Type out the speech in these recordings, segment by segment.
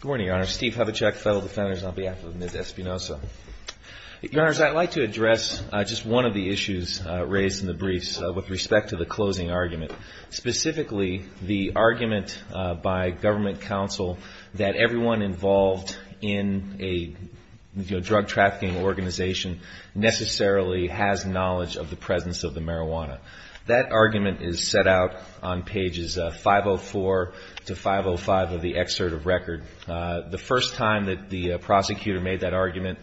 Good morning, Your Honor. Steve Hubachek, Federal Defenders, on behalf of Ms. Espinoza. Your Honors, I'd like to address just one of the issues raised in the briefs with respect to the closing argument. Specifically, the argument by government counsel that everyone involved in a drug trafficking organization necessarily has knowledge of the presence of the marijuana. That argument is set out on pages 504 to 505 of the excerpt of record. The first time that the prosecutor made that argument,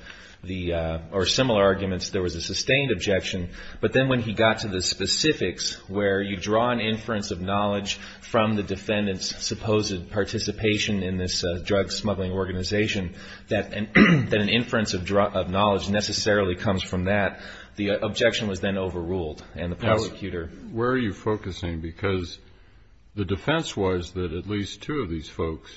or similar arguments, there was a sustained objection. But then when he got to the specifics, where you draw an inference of knowledge from the defendant's supposed participation in this drug smuggling organization, that an inference of knowledge necessarily comes from that, the objection was then overruled, and the prosecutor... Now, where are you focusing? Because the defense was that at least two of these folks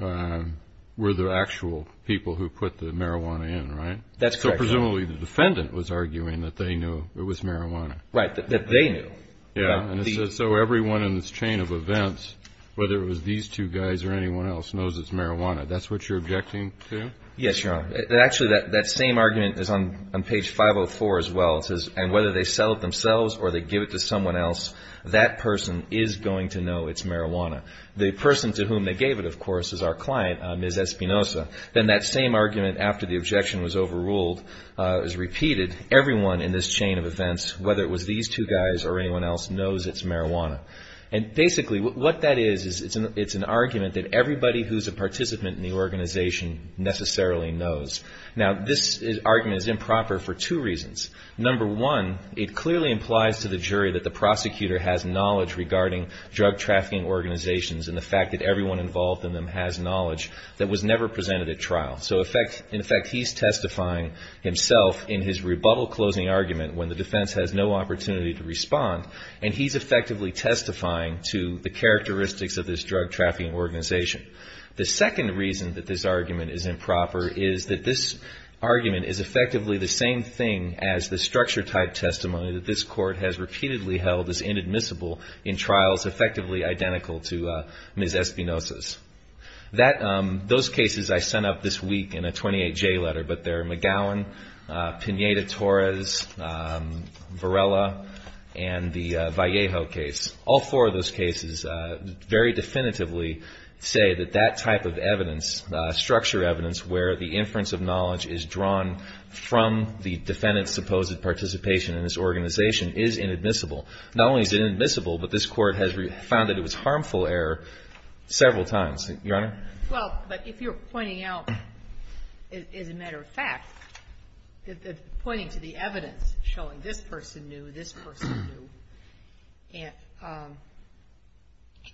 were the actual people who put the marijuana in, right? That's correct, Your Honor. So presumably the defendant was arguing that they knew it was marijuana. Right, that they knew. Yeah, and so everyone in this chain of events, whether it was these two guys or anyone else, knows it's marijuana. That's what you're objecting to? Yes, Your Honor. Actually, that same argument is on page 504 as well. It says, and whether they sell it themselves or they give it to someone else, that person is going to know it's marijuana. The person to whom they gave it, of course, is our client, Ms. Espinoza. Then that same argument after the objection was overruled is repeated. Everyone in this chain of events, whether it was these two guys or anyone else, knows it's marijuana. And basically what that is is it's an argument that everybody who's a participant in the organization necessarily knows. Now, this argument is improper for two reasons. Number one, it clearly implies to the jury that the prosecutor has knowledge regarding drug trafficking organizations and the fact that everyone involved in them has knowledge that was never presented at trial. So in effect, he's testifying himself in his rebuttal closing argument when the defense has no opportunity to respond, and he's effectively testifying to the characteristics of this drug trafficking organization. The second reason that this argument is improper is that this argument is effectively the same thing as the structure-type testimony that this Court has repeatedly held as inadmissible in trials effectively identical to Ms. Espinoza's. Those cases I sent up this week in a 28-J letter, but they're McGowan, Pineda-Torres, Varela, and the Vallejo case. All four of those cases very definitively say that that type of evidence, structure evidence, where the inference of knowledge is drawn from the defendant's supposed participation in this organization is inadmissible. Not only is it inadmissible, but this Court has found that it was harmful error several times. Your Honor? Well, but if you're pointing out, as a matter of fact, pointing to the evidence showing this person knew, this person knew, and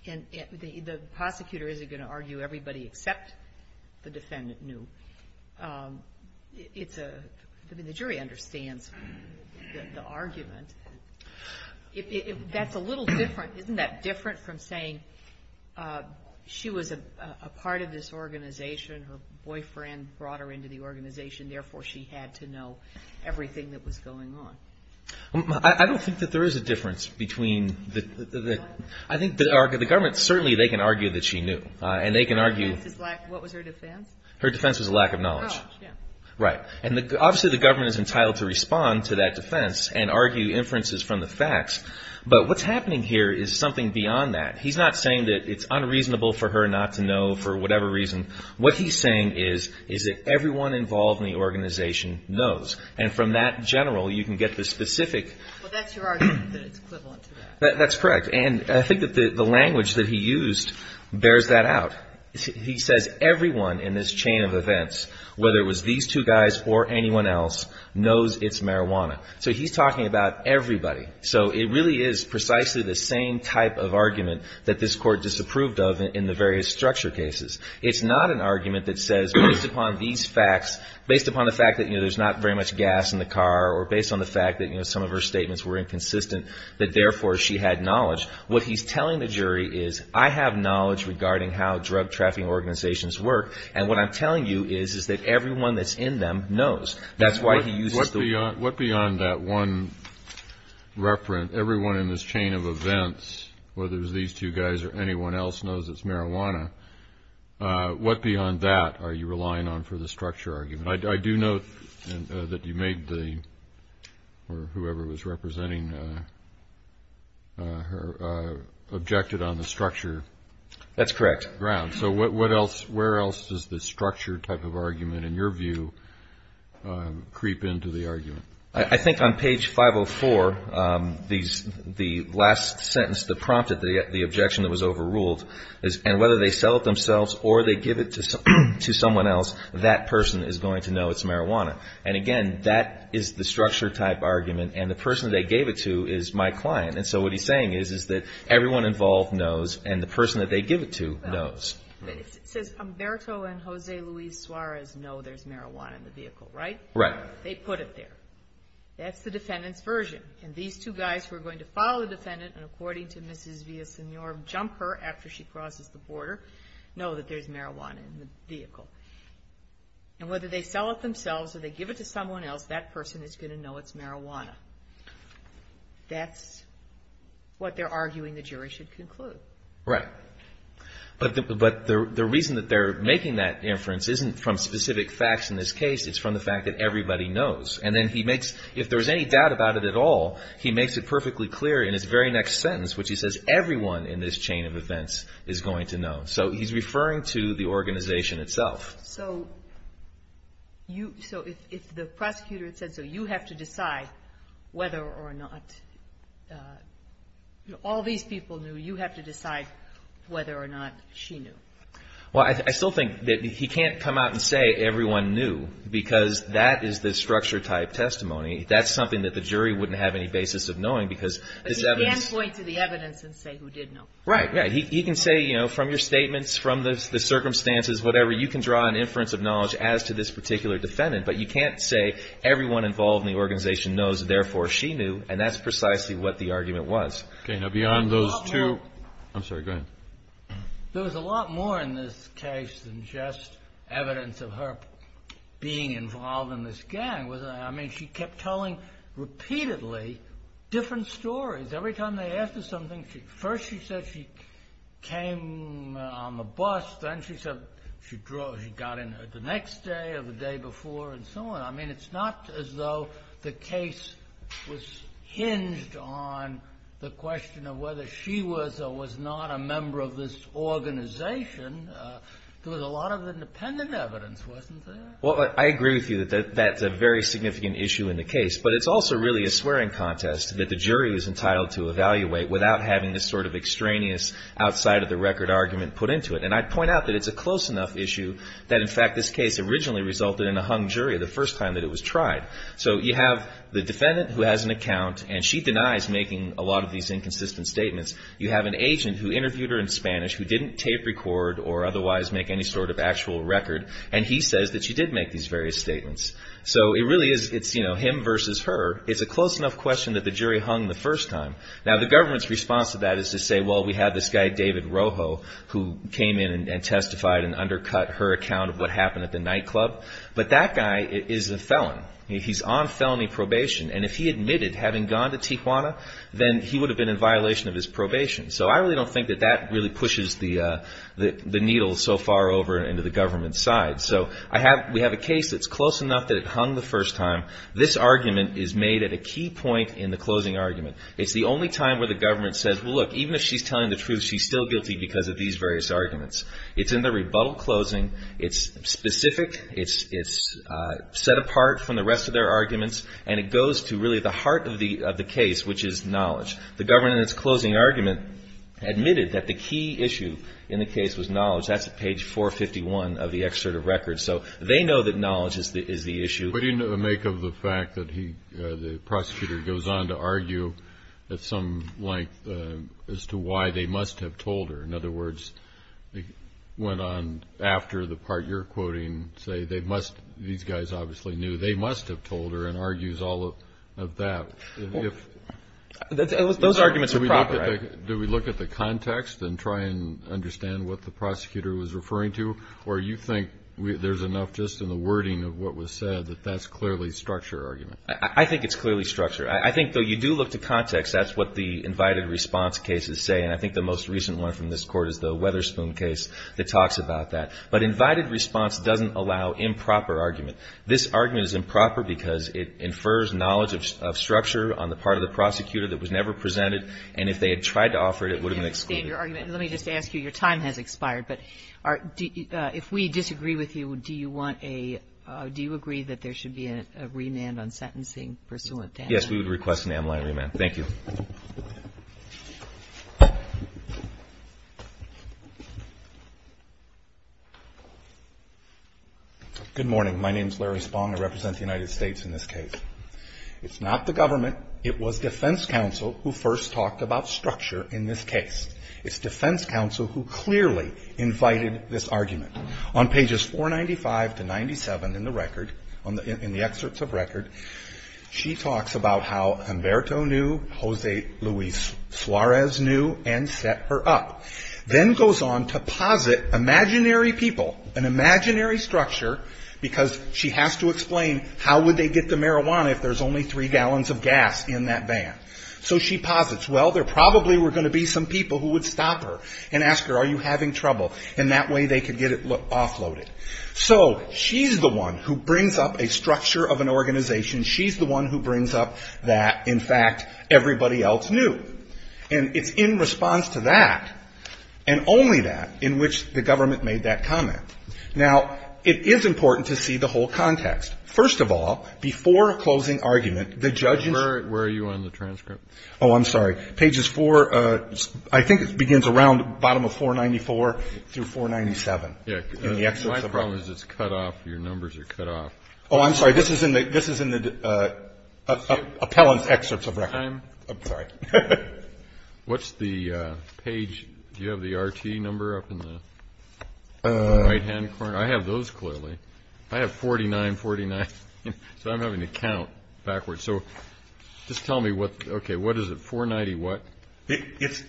the prosecutor isn't going to argue everybody except the defendant knew, it's a – I mean, the jury understands the argument. If that's a little different, isn't that different from saying she was a part of this organization, her boyfriend brought her into the organization, therefore she had to know everything that was going on? I don't think that there is a difference between the – I think the government, certainly they can argue that she knew. And they can argue – What was her defense? Her defense was a lack of knowledge. Oh, yeah. Right. And obviously the government is entitled to respond to that defense and argue inferences from the facts. But what's happening here is something beyond that. He's not saying that it's unreasonable for her not to know for whatever reason. What he's saying is that everyone involved in the organization knows. And from that general, you can get the specific – Well, that's your argument that it's equivalent to that. That's correct. And I think that the language that he used bears that out. He says everyone in this chain of events, whether it was these two guys or anyone else, knows it's marijuana. So he's talking about everybody. So it really is precisely the same type of argument that this Court disapproved of in the various structure cases. It's not an argument that says based upon these facts, based upon the fact that there's not very much gas in the car or based on the fact that some of her statements were inconsistent, that therefore she had knowledge. What he's telling the jury is I have knowledge regarding how drug trafficking organizations work. And what I'm telling you is that everyone that's in them knows. That's why he uses the word. What beyond that one referent, everyone in this chain of events, whether it was these two guys or anyone else, knows it's marijuana, what beyond that are you relying on for the structure argument? I do note that you made the, or whoever was representing her, objected on the structure. That's correct. So what else, where else does the structure type of argument, in your view, creep into the argument? I think on page 504, the last sentence that prompted the objection that was overruled, and whether they sell it themselves or they give it to someone else, that person is going to know it's marijuana. And, again, that is the structure type argument. And the person they gave it to is my client. And so what he's saying is that everyone involved knows and the person that they give it to knows. It says Humberto and Jose Luis Suarez know there's marijuana in the vehicle, right? Right. They put it there. That's the defendant's version. And these two guys who are going to follow the defendant and, according to Mrs. Villasenor, jump her after she crosses the border, know that there's marijuana in the vehicle. And whether they sell it themselves or they give it to someone else, that person is going to know it's marijuana. That's what they're arguing the jury should conclude. Right. But the reason that they're making that inference isn't from specific facts in this case. It's from the fact that everybody knows. And then he makes, if there's any doubt about it at all, he makes it perfectly clear in his very next sentence, which he says everyone in this chain of events is going to know. So he's referring to the organization itself. So if the prosecutor said so, you have to decide whether or not all these people knew. You have to decide whether or not she knew. Well, I still think that he can't come out and say everyone knew because that is the structure-type testimony. That's something that the jury wouldn't have any basis of knowing because this evidence. He can't point to the evidence and say who did know. Right. He can say, you know, from your statements, from the circumstances, whatever, you can draw an inference of knowledge as to this particular defendant. But you can't say everyone involved in the organization knows, therefore, she knew. And that's precisely what the argument was. Okay. Now, beyond those two. I'm sorry. Go ahead. There was a lot more in this case than just evidence of her being involved in this gang. I mean, she kept telling repeatedly different stories. Every time they asked her something, first she said she came on the bus. Then she said she got in the next day or the day before and so on. I mean, it's not as though the case was hinged on the question of whether she was or was not a member of this organization. There was a lot of independent evidence, wasn't there? Well, I agree with you that that's a very significant issue in the case. But it's also really a swearing contest that the jury is entitled to evaluate without having this sort of extraneous outside-of-the-record argument put into it. And I'd point out that it's a close enough issue that, in fact, this case originally resulted in a hung jury the first time that it was tried. So you have the defendant who has an account and she denies making a lot of these inconsistent statements. You have an agent who interviewed her in Spanish who didn't tape record or otherwise make any sort of actual record. And he says that she did make these various statements. So it really is, you know, it's him versus her. It's a close enough question that the jury hung the first time. Now, the government's response to that is to say, well, we had this guy, David Rojo, who came in and testified and undercut her account of what happened at the nightclub. But that guy is a felon. He's on felony probation. And if he admitted having gone to Tijuana, then he would have been in violation of his probation. So I really don't think that that really pushes the needle so far over into the government's side. So we have a case that's close enough that it hung the first time. This argument is made at a key point in the closing argument. It's the only time where the government says, well, look, even if she's telling the truth, she's still guilty because of these various arguments. It's in the rebuttal closing. It's specific. It's set apart from the rest of their arguments. And it goes to really the heart of the case, which is knowledge. The government in its closing argument admitted that the key issue in the case was knowledge. That's at page 451 of the excerpt of record. So they know that knowledge is the issue. Putting to the make of the fact that the prosecutor goes on to argue at some length as to why they must have told her. In other words, went on after the part you're quoting, say they must, these guys obviously knew, they must have told her and argues all of that. Those arguments are proper. Do we look at the context and try and understand what the prosecutor was referring to? Or do you think there's enough just in the wording of what was said that that's clearly structure argument? I think it's clearly structure. I think, though, you do look to context. That's what the invited response cases say. And I think the most recent one from this Court is the Weatherspoon case that talks about that. But invited response doesn't allow improper argument. This argument is improper because it infers knowledge of structure on the part of the prosecutor that was never presented. And if they had tried to offer it, it would have been excluded. I understand your argument. And let me just ask you, your time has expired, but if we disagree with you, do you want a do you agree that there should be a remand on sentencing pursuant to that? Yes, we would request an amyline remand. Thank you. Good morning. My name is Larry Spong. I represent the United States in this case. It's not the government. It was defense counsel who first talked about structure in this case. It's defense counsel who clearly invited this argument. On pages 495 to 97 in the record, in the excerpts of record, she talks about how Humberto knew, Jose Luis Suarez knew, and set her up. Then goes on to posit imaginary people, an imaginary structure, because she has to explain how would they get the marijuana if there's only three gallons of gas in that van. So she posits, well, there probably were going to be some people who would stop her and ask her, are you having trouble, and that way they could get it offloaded. So she's the one who brings up a structure of an organization. She's the one who brings up that, in fact, everybody else knew. And it's in response to that, and only that, in which the government made that comment. Now, it is important to see the whole context. First of all, before a closing argument, the judge is ---- Oh, I'm sorry. Pages 4, I think it begins around the bottom of 494 through 497 in the excerpts of record. My problem is it's cut off. Your numbers are cut off. Oh, I'm sorry. This is in the appellant's excerpts of record. I'm sorry. What's the page? Do you have the RT number up in the right-hand corner? I have those clearly. I have 4949. So I'm having to count backwards. So just tell me what, okay, what is it, 490 what?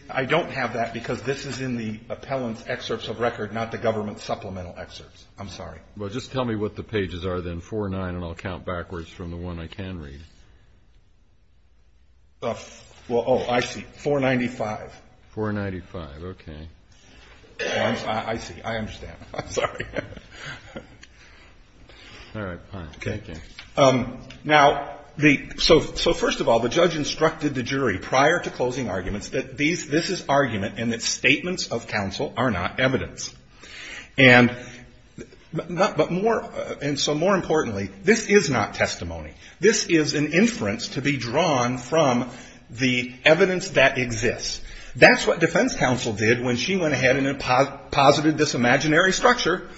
I don't have that because this is in the appellant's excerpts of record, not the government's supplemental excerpts. I'm sorry. Well, just tell me what the pages are then, 49, and I'll count backwards from the one I can read. Well, oh, I see, 495. 495, okay. I see. I understand. I'm sorry. All right, fine. Okay. Now, so first of all, the judge instructed the jury prior to closing arguments that this is argument and that statements of counsel are not evidence. And so more importantly, this is not testimony. This is an inference to be drawn from the evidence that exists. That's what defense counsel did when she went ahead and posited this imaginary structure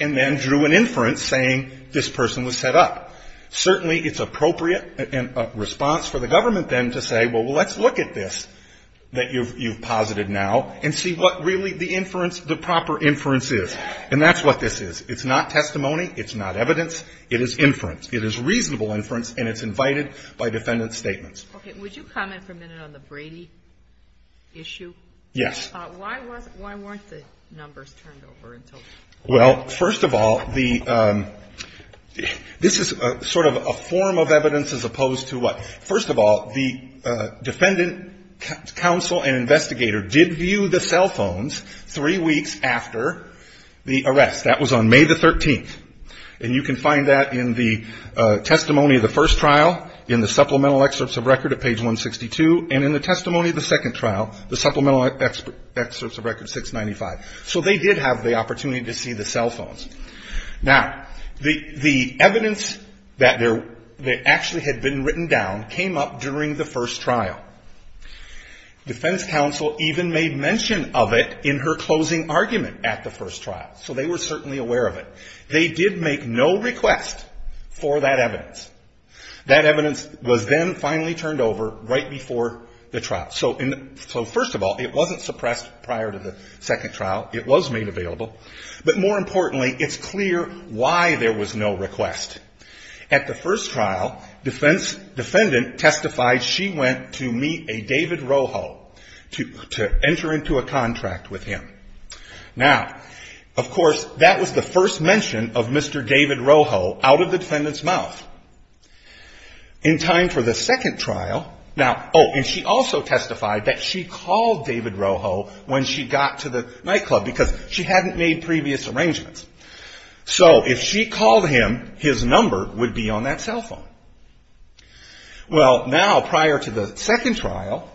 and then drew an inference saying this person was set up. Certainly it's appropriate in response for the government then to say, well, let's look at this that you've posited now and see what really the inference, the proper inference is. And that's what this is. It's not testimony. It's not evidence. It is inference. It is reasonable inference, and it's invited by defendant's statements. Okay. Would you comment for a minute on the Brady issue? Yes. Why wasn't, why weren't the numbers turned over until? Well, first of all, the, this is sort of a form of evidence as opposed to what? First of all, the defendant counsel and investigator did view the cell phones three weeks after the arrest. That was on May the 13th. And you can find that in the testimony of the first trial, in the supplemental testimony of the second trial, the supplemental excerpts of record 695. So they did have the opportunity to see the cell phones. Now, the evidence that actually had been written down came up during the first trial. Defense counsel even made mention of it in her closing argument at the first trial. So they were certainly aware of it. They did make no request for that evidence. That evidence was then finally turned over right before the trial. So first of all, it wasn't suppressed prior to the second trial. It was made available. But more importantly, it's clear why there was no request. At the first trial, defendant testified she went to meet a David Roho to enter into a contract with him. Now, of course, that was the first mention of Mr. David Roho out of the defendant's mouth. In time for the second trial, now, oh, and she also testified that she called David Roho when she got to the nightclub because she hadn't made previous arrangements. So if she called him, his number would be on that cell phone. Well, now, prior to the second trial,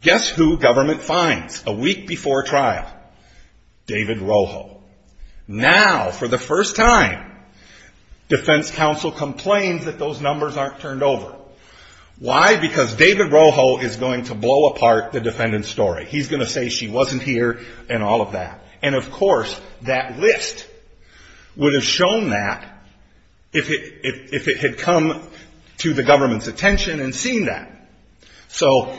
guess who government finds a week before trial? David Roho. Now, for the first time, defense counsel complains that those numbers aren't turned over. Why? Because David Roho is going to blow apart the defendant's story. He's going to say she wasn't here and all of that. And, of course, that list would have shown that if it had come to the government's attention and seen that. So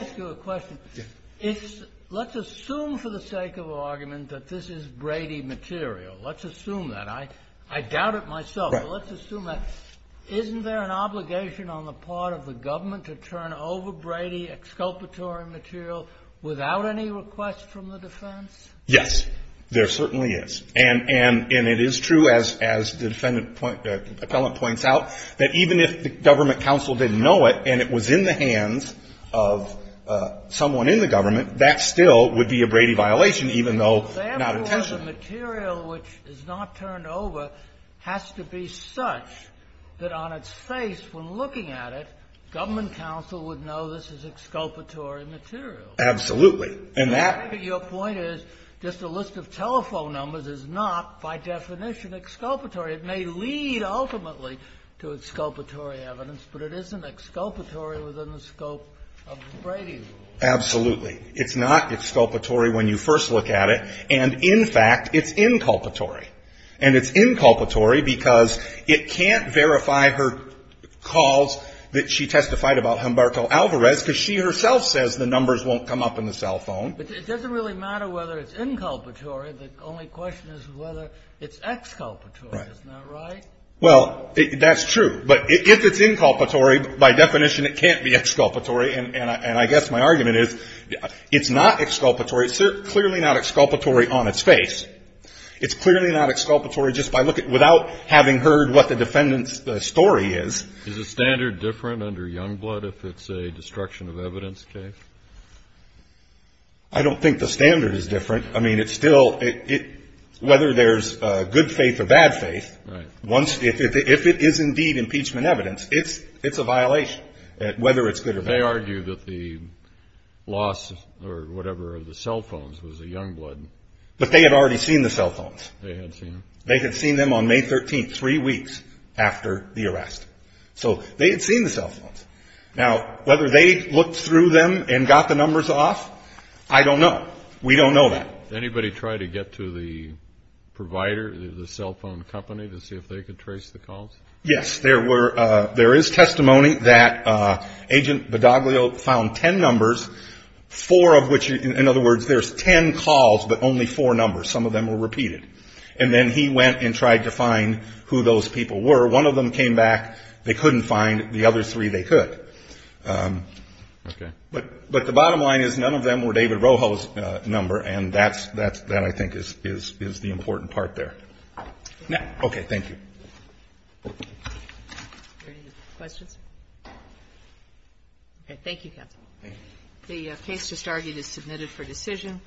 let's assume for the sake of argument that this is Brady material. Let's assume that. I doubt it myself, but let's assume that. Isn't there an obligation on the part of the government to turn over Brady exculpatory material without any request from the defense? Yes, there certainly is. And it is true, as the defendant appellant points out, that even if the government counsel didn't know it and it was in the hands of someone in the government, that still would be a Brady violation, even though not intentionally. The material which is not turned over has to be such that on its face, when looking at it, government counsel would know this is exculpatory material. Absolutely. And that. Your point is just a list of telephone numbers is not, by definition, exculpatory. It may lead, ultimately, to exculpatory evidence, but it isn't exculpatory within the scope of Brady's rule. Absolutely. It's not exculpatory when you first look at it. And, in fact, it's inculpatory. And it's inculpatory because it can't verify her calls that she testified about Humbarto Alvarez because she herself says the numbers won't come up in the cell phone. But it doesn't really matter whether it's inculpatory. The only question is whether it's exculpatory. Right. Isn't that right? Well, that's true. But if it's inculpatory, by definition, it can't be exculpatory. And I guess my argument is it's not exculpatory. It's clearly not exculpatory on its face. It's clearly not exculpatory just by looking at it, without having heard what the defendant's story is. Is the standard different under Youngblood if it's a destruction of evidence case? I don't think the standard is different. I mean, it's still – whether there's good faith or bad faith, if it is indeed impeachment evidence, it's a violation, whether it's good or bad. They argue that the loss or whatever of the cell phones was a Youngblood. But they had already seen the cell phones. They had seen them. They had seen them on May 13th, three weeks after the arrest. So they had seen the cell phones. Now, whether they looked through them and got the numbers off, I don't know. We don't know that. Did anybody try to get to the provider, the cell phone company, to see if they could trace the calls? Yes. There were – there is testimony that Agent Badaglio found ten numbers, four of which – in other words, there's ten calls, but only four numbers. Some of them were repeated. And then he went and tried to find who those people were. One of them came back. They couldn't find the other three. They could. Okay. But the bottom line is none of them were David Roho's number. And that's – that I think is the important part there. Okay. Thank you. Any questions? Okay. Thank you, counsel. The case just argued is submitted for decision.